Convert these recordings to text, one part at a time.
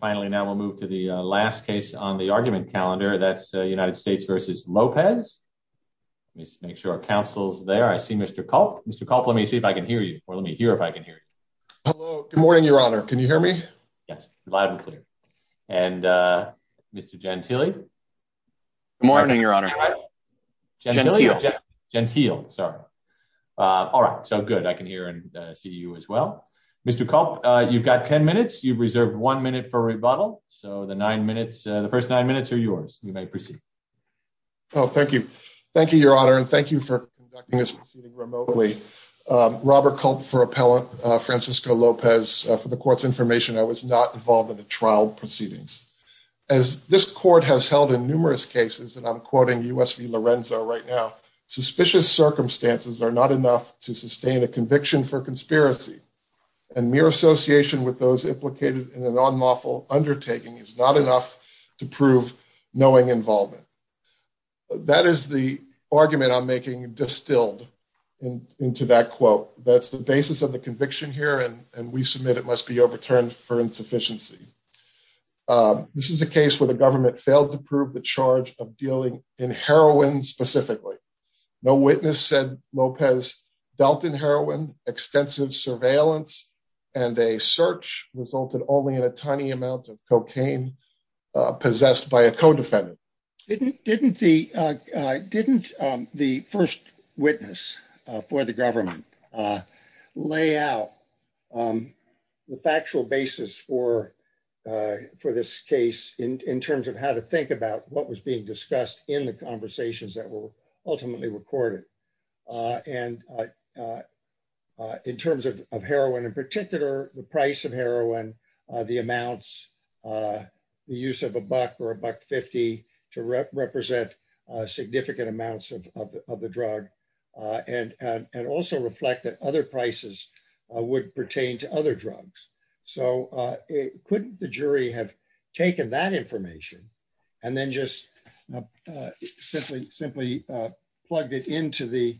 Finally, now we'll move to the last case on the argument calendar. That's United States v. Lopez. Let's make sure our counsel's there. I see Mr. Culp. Mr. Culp, let me see if I can hear you, or let me hear if I can hear you. Hello. Good morning, Your Honor. Can you hear me? Yes. Loud and clear. Mr. Gentile? Good morning, Your Honor. Gentile. Sorry. All right. So good. I can hear and see you as well. Mr. Culp, you've got 10 minutes for rebuttal. So the first nine minutes are yours. You may proceed. Oh, thank you. Thank you, Your Honor. And thank you for conducting this proceeding remotely. Robert Culp for appellate Francisco Lopez. For the court's information, I was not involved in the trial proceedings. As this court has held in numerous cases, and I'm quoting US v. Lorenzo right now, suspicious circumstances are not enough to sustain a conviction for conspiracy. And mere association with those implicated in an unlawful undertaking is not enough to prove knowing involvement. That is the argument I'm making distilled into that quote. That's the basis of the conviction here, and we submit it must be overturned for insufficiency. This is a case where the government failed to prove the charge of dealing in heroin specifically. No witness said Lopez dealt in heroin, extensive surveillance, and a search resulted only in a tiny amount of cocaine possessed by a codefendant. Didn't the first witness for the government lay out the factual basis for this case in terms of how to think about what was being discussed in the conversations that were ultimately recorded? And in terms of heroin in particular, the price of heroin, the amounts, the use of a buck or a buck fifty to represent significant amounts of the drug, and also reflect that other prices would pertain to other drugs. So couldn't the jury have taken that information and then just simply plugged it into the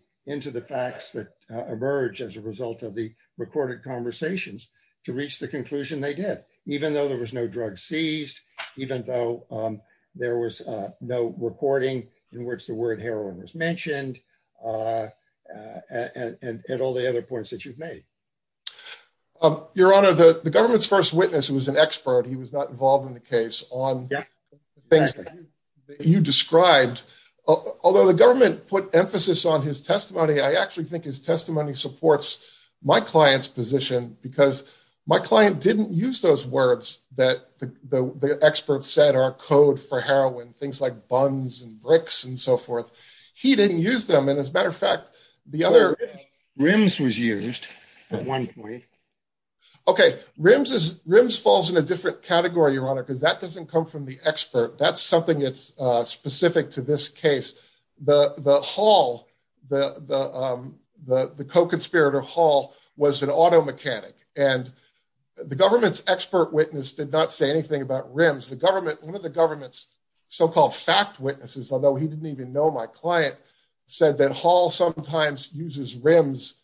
facts that emerge as a result of the recorded conversations to reach the conclusion they did, even though there was no drug seized, even though there was no recording in which the word heroin is mentioned, and all the other points that you've made? Um, Your Honor, the government's first witness was an expert. He was not involved in the case on things that you described, although the government put emphasis on his testimony. I actually think his testimony supports my client's position because my client didn't use those words that the experts said are code for heroin, things like buns and bricks and so forth. He didn't use them. And as a matter of fact, the other... RIMS was used at one point. Okay. RIMS falls in a different category, Your Honor, because that doesn't come from the expert. That's something that's specific to this case. The hall, the co-conspirator hall was an auto mechanic. And the government's expert witness did not say anything about RIMS. One of the client said that hall sometimes uses RIMS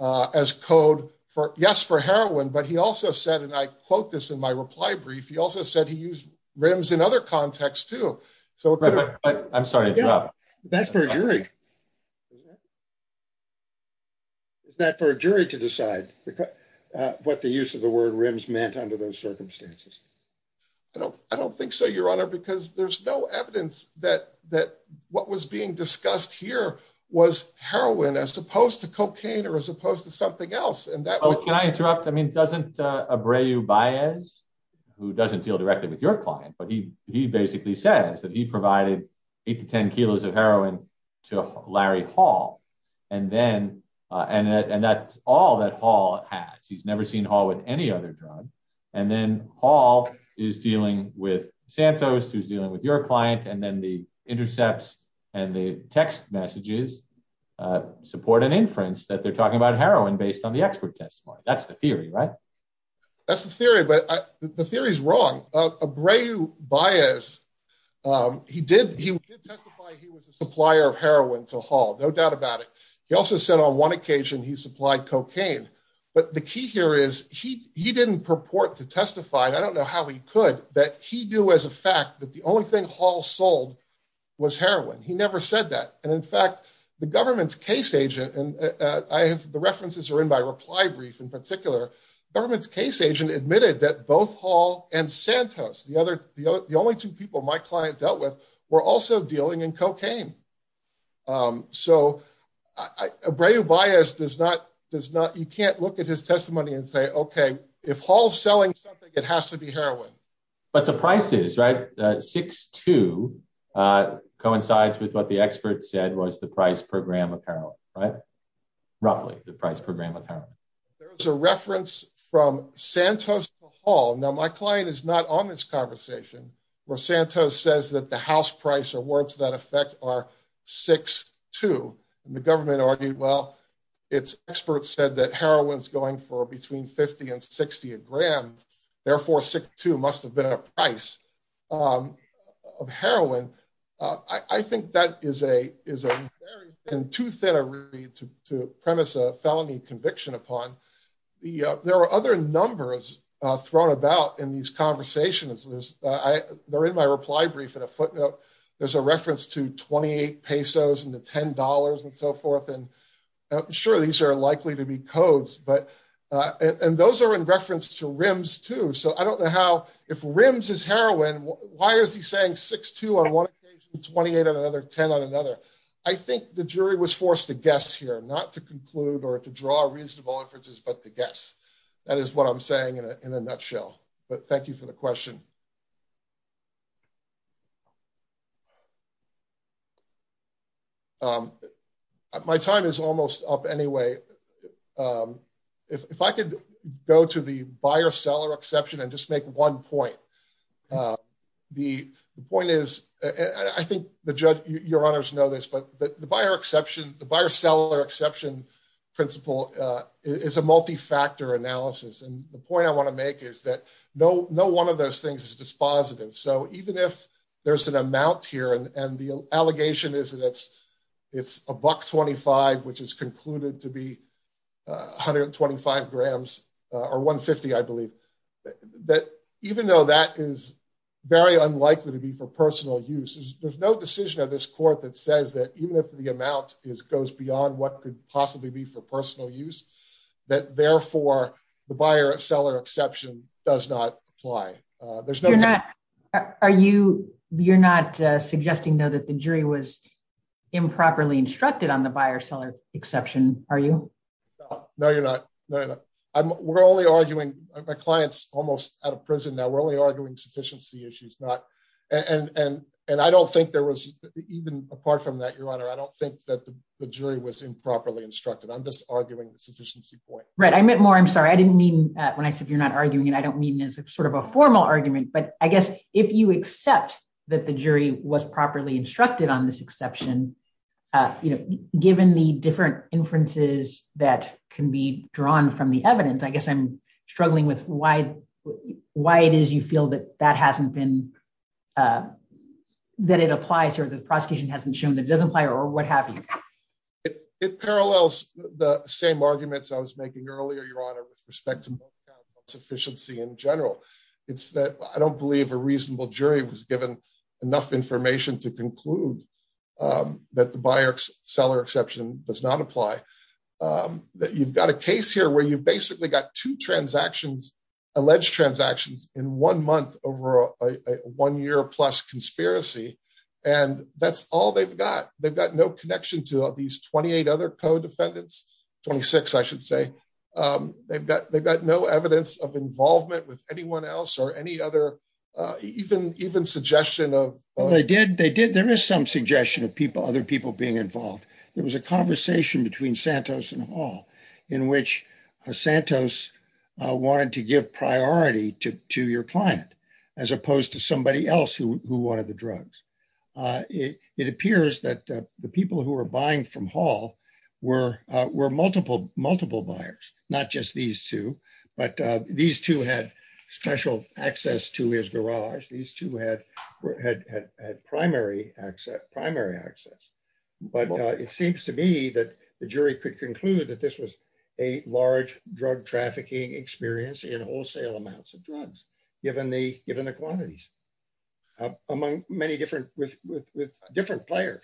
as code for, yes, for heroin, but he also said, and I quote this in my reply brief, he also said he used RIMS in other contexts too. I'm sorry to interrupt. That's for a jury. Is that for a jury to decide what the use of the word RIMS meant under those circumstances? I don't think so, Your Honor, because there's no evidence that what was being discussed here was heroin as opposed to cocaine or as opposed to something else. Can I interrupt? I mean, doesn't Abreu Baez, who doesn't deal directly with your client, but he basically says that he provided eight to 10 kilos of heroin to Larry Hall. And that's all that Hall has. He's never seen Hall with any other drug. And then Hall is dealing with Santos, who's dealing with your client. And then the intercepts and the text messages support an inference that they're talking about heroin based on the expert testimony. That's the theory, right? That's the theory, but the theory is wrong. Abreu Baez, he did testify he was a supplier of heroin to Hall, no doubt about it. He also said on one occasion he supplied cocaine. But the key here is he didn't purport to testify, and I don't know how he could, that he knew as a fact that the only thing Hall sold was heroin. He never said that. And in fact, the government's case agent, and the references are in my reply brief in particular, government's case agent admitted that both Hall and Santos, the only two people my client dealt were also dealing in cocaine. So Abreu Baez does not, you can't look at his testimony and say, okay, if Hall's selling something, it has to be heroin. But the prices, right? Six two coincides with what the expert said was the price per gram of heroin, right? Roughly the price per gram of heroin. There's a reference from Santos to Hall. Now my client is on this conversation where Santos says that the house price or words that affect are six two, and the government argued, well, it's experts said that heroin's going for between 50 and 60 a gram. Therefore, six two must have been a price of heroin. I think that is a very, and too thin to premise a felony conviction upon. There are other numbers thrown about in these conversations. They're in my reply brief in a footnote. There's a reference to 28 pesos and the $10 and so forth. And I'm sure these are likely to be codes, but, and those are in reference to RIMS too. So I don't know how, if RIMS is heroin, why is he saying six two on one occasion, 28 on another, 10 on another? I think the jury was forced to guess here, not to conclude or to draw reasonable inferences, but to guess that is what I'm saying in a nutshell. But thank you for the question. My time is almost up anyway. If I could go to the buyer seller exception and just make one point. The point is, I think the judge, your honors know this, but the buyer exception, the buyer seller exception principle is a multi-factor analysis. And the point I want to make is that no one of those things is dispositive. So even if there's an amount here and the allegation is that it's a buck 25, which is concluded to be 125 grams or 150, I believe, that even though that is very unlikely to be for personal use, there's no decision of this court that says that even if the amount goes beyond what could possibly be for personal use, that therefore the buyer seller exception does not apply. You're not suggesting though that the jury was improperly instructed on the buyer seller exception, are you? No, you're not. We're only arguing, my client's almost out of prison now, we're only arguing sufficiency issues and I don't think there was even apart from that, your honor, I don't think that the jury was improperly instructed. I'm just arguing the sufficiency point. Right. I meant more, I'm sorry. I didn't mean when I said you're not arguing and I don't mean as a sort of a formal argument, but I guess if you accept that the jury was properly instructed on this exception, given the different inferences that can be drawn from the evidence, I guess I'm struggling with why it is you feel that that hasn't been, that it applies or the prosecution hasn't shown that it doesn't apply or what have you. It parallels the same arguments I was making earlier, your honor, with respect to sufficiency in general. It's that I don't believe a reasonable jury was given enough information to conclude that the buyer seller exception does not apply. That you've got a case here where you've basically got two transactions, alleged transactions in one month over a one year plus conspiracy and that's all they've got. They've got no connection to these 28 other co-defendants, 26 I should say. They've got no evidence of involvement with anyone else or any other even suggestion of. They did, there is some suggestion of people, other people being involved. There was a conversation between Santos and Hall in which Santos wanted to give priority to your client as opposed to somebody else who wanted the drugs. It appears that the people who were buying from Hall were multiple buyers, not just these two, but these two had special access to his garage. These two had primary primary access. But it seems to me that the jury could conclude that this was a large drug trafficking experience in wholesale amounts of drugs, given the quantities among many different players.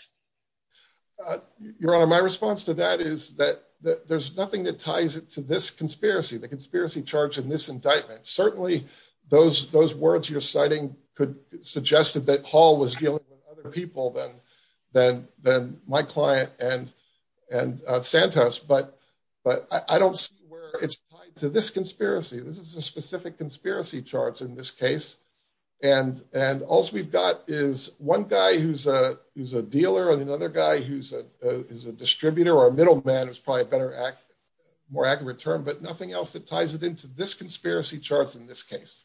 Your honor, my response to that is that there's nothing that ties it to this conspiracy, the conspiracy charge in this indictment. Certainly those words you're than my client and Santos, but I don't see where it's tied to this conspiracy. This is a specific conspiracy charge in this case. And all we've got is one guy who's a dealer and another guy who's a distributor or a middleman, who's probably a better, more accurate term, but nothing else that ties it into this conspiracy charge in this case.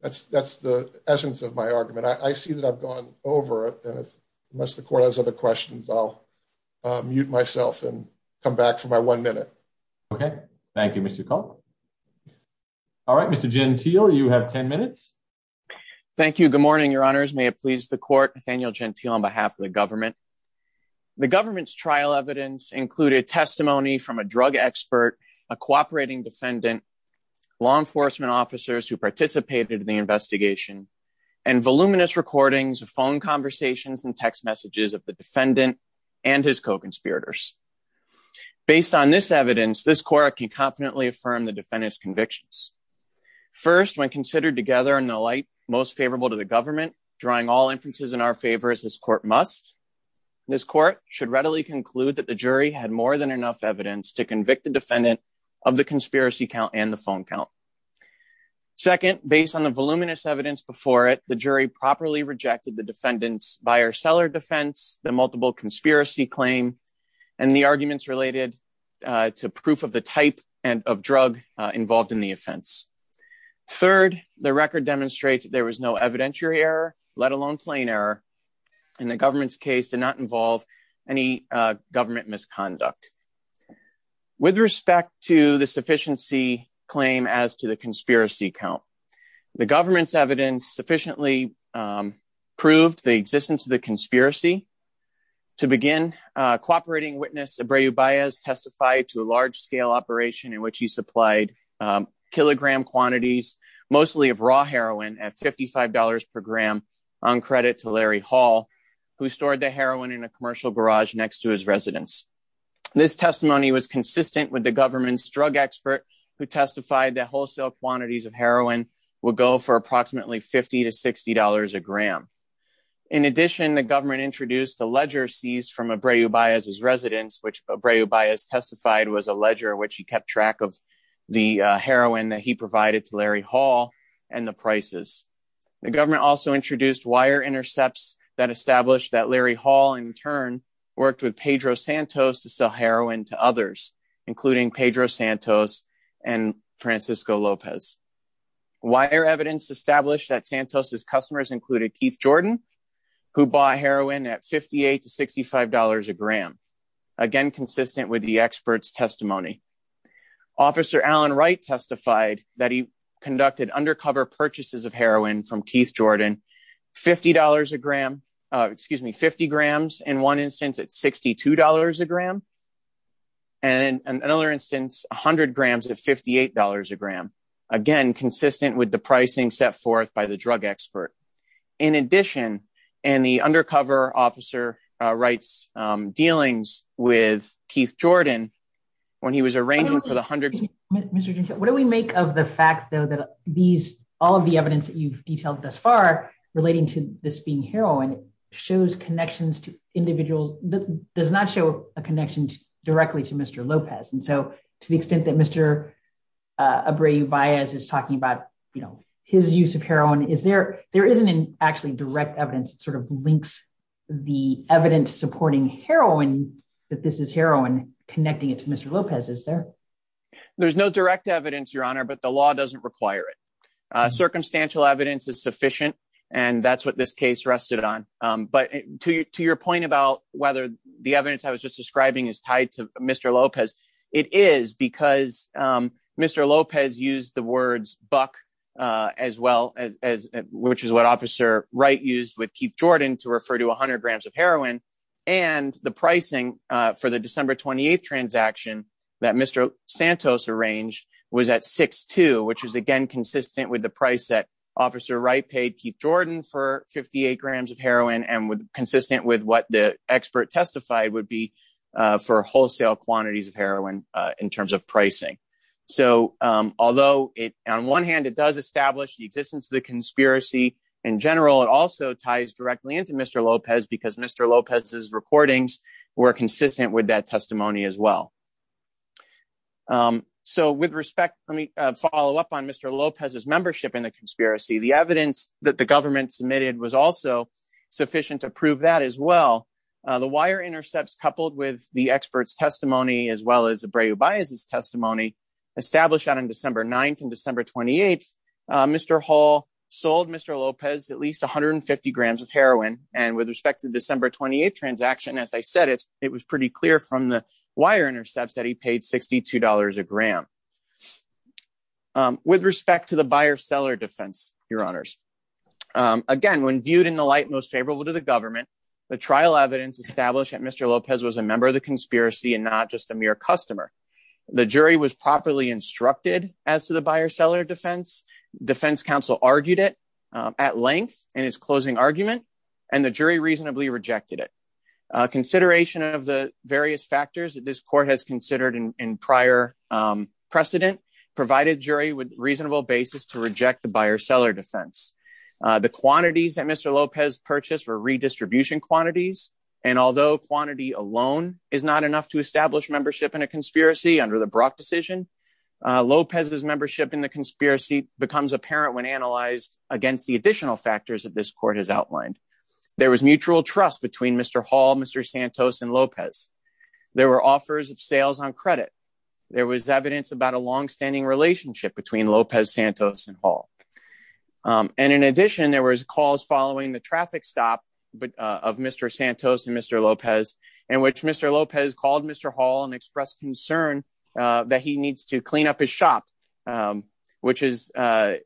That's the essence of my argument. I see that I've gone over it and unless the court has other questions, I'll mute myself and come back for my one minute. Okay. Thank you, Mr. Cole. All right, Mr. Gentile, you have 10 minutes. Thank you. Good morning, your honors. May it please the court, Nathaniel Gentile on behalf of the government. The government's trial evidence included testimony from a drug expert, a cooperating defendant, law enforcement officers who participated in the investigation and voluminous recordings of phone conversations and text messages of the defendant and his co-conspirators. Based on this evidence, this court can confidently affirm the defendant's convictions. First, when considered together in the light most favorable to the government, drawing all inferences in our favor as this court must, this court should readily conclude that the jury had more than enough evidence to convict the defendant of the conspiracy count and the phone count. Second, based on the voluminous evidence before it, the jury properly rejected the defendant's buyer seller defense, the multiple conspiracy claim, and the arguments related to proof of the type of drug involved in the offense. Third, the record demonstrates that there was no evidentiary error, let alone plain error in the government's case to not involve any government misconduct. With respect to the sufficiency claim as to the conspiracy count, the government's evidence sufficiently proved the existence of the conspiracy. To begin, cooperating witness Abreu Baez testified to a large-scale operation in which he supplied kilogram quantities mostly of raw heroin at $55 per gram on credit to Larry Hall, who stored the heroin in a commercial garage next to his residence. This testimony was consistent with the government's drug expert who testified that wholesale quantities of heroin would go for approximately $50 to $60 a gram. In addition, the government introduced a ledger seized from Abreu Baez's residence, which Abreu Baez testified was a ledger which he kept track of the heroin that he provided to Larry Hall and the prices. The government also introduced wire intercepts that established that Larry Hall in turn worked with Pedro Santos to sell heroin to others, including Pedro Santos and Francisco Lopez. Wire evidence established that Santos' customers included Keith Jordan, who bought heroin at $58 to $65 a gram, again consistent with the expert's testimony. Officer Alan Wright testified that he conducted undercover purchases of heroin from excuse me 50 grams in one instance at $62 a gram and another instance 100 grams at $58 a gram, again consistent with the pricing set forth by the drug expert. In addition, and the undercover officer writes dealings with Keith Jordan when he was arranging for the hundreds. Mr. Jensen, what do we make of the fact though that these all of the evidence that you've detailed thus far relating to this being heroin shows connections to individuals that does not show a connection directly to Mr. Lopez? And so to the extent that Mr. Abreu Baez is talking about, you know, his use of heroin, is there there isn't an actually direct evidence that sort of links the evidence supporting heroin that this is heroin connecting it to Mr. Lopez, is there? There's no direct evidence, your honor, but the law doesn't require it. Circumstantial evidence is sufficient. And that's what this case rested on. But to your point about whether the evidence I was just describing is tied to Mr. Lopez, it is because Mr. Lopez used the words buck, as well as which is what Officer Wright used with Keith Jordan to refer to 100 grams of heroin. And the pricing for the December 28th transaction that Mr. Santos arranged was at 62, which is again consistent with the price that Officer Wright paid Keith Jordan for 58 grams of heroin and consistent with what the expert testified would be for wholesale quantities of heroin in terms of pricing. So although on one hand, it does establish the existence of the conspiracy in general, it also ties directly into Mr. Lopez because Mr. Lopez's recordings were consistent with that testimony as well. So with respect, let me follow up on Mr. Lopez's membership in the conspiracy. The evidence that the government submitted was also sufficient to prove that as well. The wire intercepts coupled with the expert's testimony as well as a brave bias testimony established out on December 9th and December 28th, Mr. Hall sold Mr. Lopez at least 150 grams of wire intercepts that he paid $62 a gram. With respect to the buyer-seller defense, your honors, again, when viewed in the light most favorable to the government, the trial evidence established that Mr. Lopez was a member of the conspiracy and not just a mere customer. The jury was properly instructed as to the buyer-seller defense. Defense counsel argued it at length in his closing argument, and the jury reasonably rejected it. Consideration of the various factors that this court has considered in prior precedent provided jury with reasonable basis to reject the buyer-seller defense. The quantities that Mr. Lopez purchased were redistribution quantities, and although quantity alone is not enough to establish membership in a conspiracy under the Brock decision, Lopez's membership in the conspiracy becomes apparent when analyzed against the additional factors that this court has outlined. There was mutual trust between Mr. Hall, Mr. Santos, and Lopez. There were offers of sales on credit. There was evidence about a long-standing relationship between Lopez, Santos, and Hall. And in addition, there was calls following the traffic stop of Mr. Santos and Mr. Lopez in which Mr. Lopez called Mr. Hall and expressed concern that he needs to clean up his shop, which is what he did.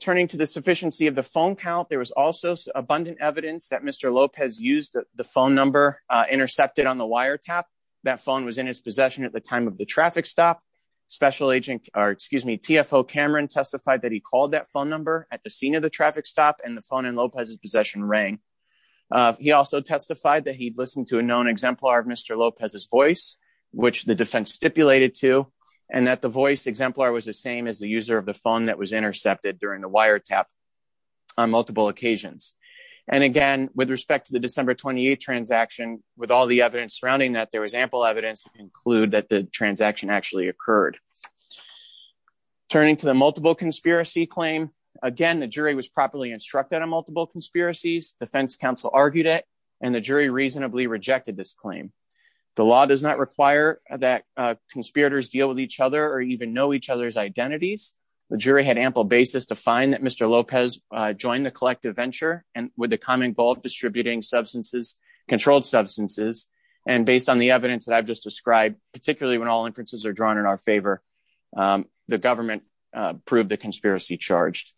Turning to the sufficiency of the phone count, there was also abundant evidence that Mr. Lopez used the phone number intercepted on the wire tap. That phone was in his possession at the time of the traffic stop. TFO Cameron testified that he called that phone number at the scene of the traffic stop, and the phone in Lopez's possession rang. He also testified that he'd listened to a known exemplar of Mr. Lopez's voice, which the defense stipulated to, and that exemplar was the same as the user of the phone that was intercepted during the wire tap on multiple occasions. And again, with respect to the December 28th transaction, with all the evidence surrounding that, there was ample evidence to conclude that the transaction actually occurred. Turning to the multiple conspiracy claim, again, the jury was properly instructed on multiple conspiracies. Defense counsel argued it, and the jury reasonably rejected this claim. The law does not require that conspirators deal with each other or even know each other's identities. The jury had ample basis to find that Mr. Lopez joined the collective venture with the common goal of distributing controlled substances. And based on the evidence that I've just described, particularly when all inferences are drawn in our favor, the government proved the conspiracy charged.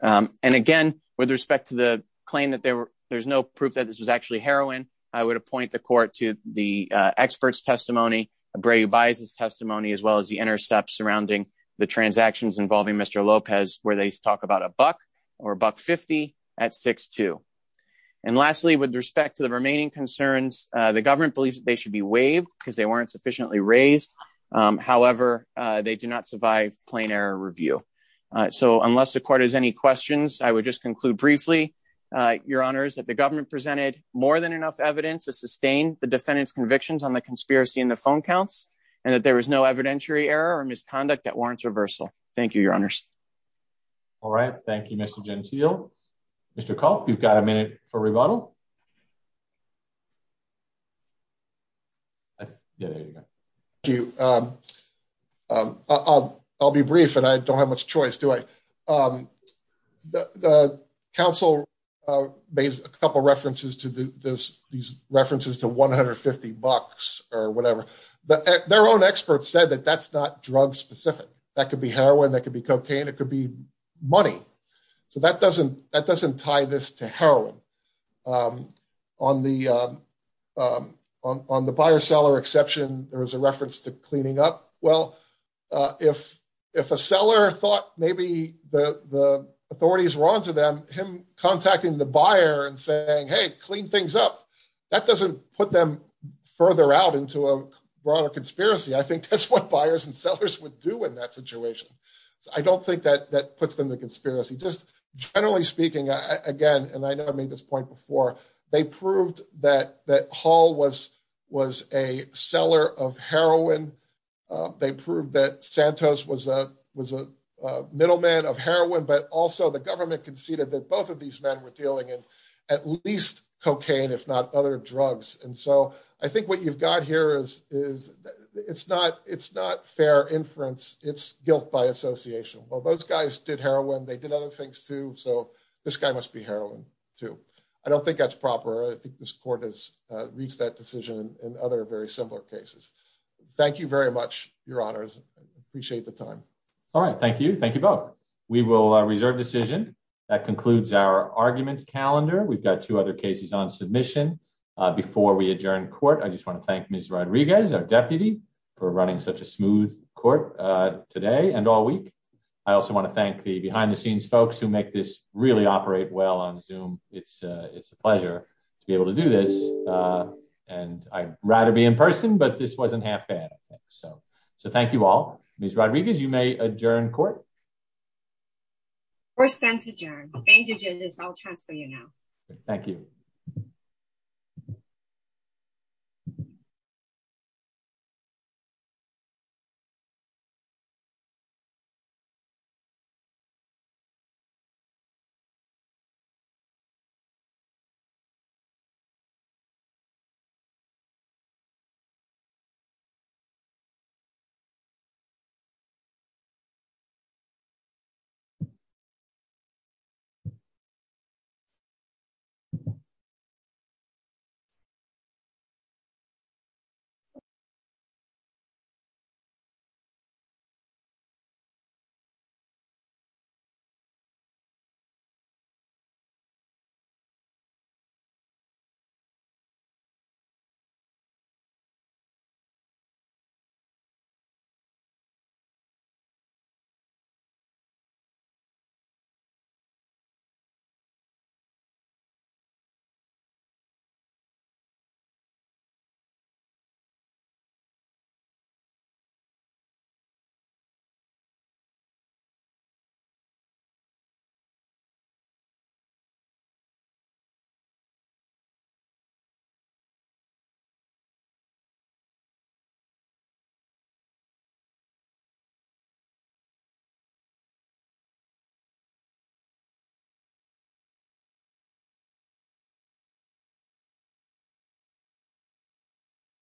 And again, with respect to the claim that there's no evidence to support that claim, I would appoint the court to the expert's testimony, Bray-Ubias' testimony, as well as the intercepts surrounding the transactions involving Mr. Lopez, where they talk about a buck or buck 50 at 6-2. And lastly, with respect to the remaining concerns, the government believes that they should be waived because they weren't sufficiently raised. However, they do not survive plain error review. So unless the court has any questions, I would just conclude briefly, Your Honors, that the government presented more than enough evidence to sustain the defendant's convictions on the conspiracy in the phone counts, and that there was no evidentiary error or misconduct that warrants reversal. Thank you, Your Honors. All right. Thank you, Mr. Gentile. Mr. Kopp, you've got a minute for rebuttal. Yeah, there you go. Thank you. I'll be brief, and I don't have much choice, do I? The counsel made a couple of references to these references to 150 bucks or whatever. Their own experts said that that's not drug-specific. That could be heroin, that could be cocaine, it could be money. So that doesn't tie this to heroin. On the buyer-seller exception, there was a reference to cleaning up. Well, if a seller thought maybe the authorities were onto them, him contacting the buyer and saying, hey, clean things up, that doesn't put them further out into a broader conspiracy. I think that's what buyers and sellers would do in that situation. I don't think that puts them to conspiracy. Just generally speaking, again, and I know I made this point before, they proved that Hall was a seller of heroin. They proved that Santos was a middleman of heroin, but also the government conceded that both of these men were dealing in at least cocaine, if not other drugs. And so I think what you've got here is it's not fair inference, it's guilt by association. Well, those guys did heroin, they did other things too. So this guy must be heroin too. I don't think that's proper. I think this court has reached that decision in other very similar cases. Thank you very much, your honors. I appreciate the time. All right. Thank you. Thank you both. We will reserve decision. That concludes our argument calendar. We've got two other cases on submission. Before we adjourn court, I just want to thank Ms. Court today and all week. I also want to thank the behind the scenes folks who make this really operate well on Zoom. It's a pleasure to be able to do this. And I'd rather be in person, but this wasn't half bad. So thank you all. Ms. Rodriguez, you may adjourn court. First bench adjourned. Thank you, judges. I'll transfer you now. Thank you. Thank you. Thank you. Thank you.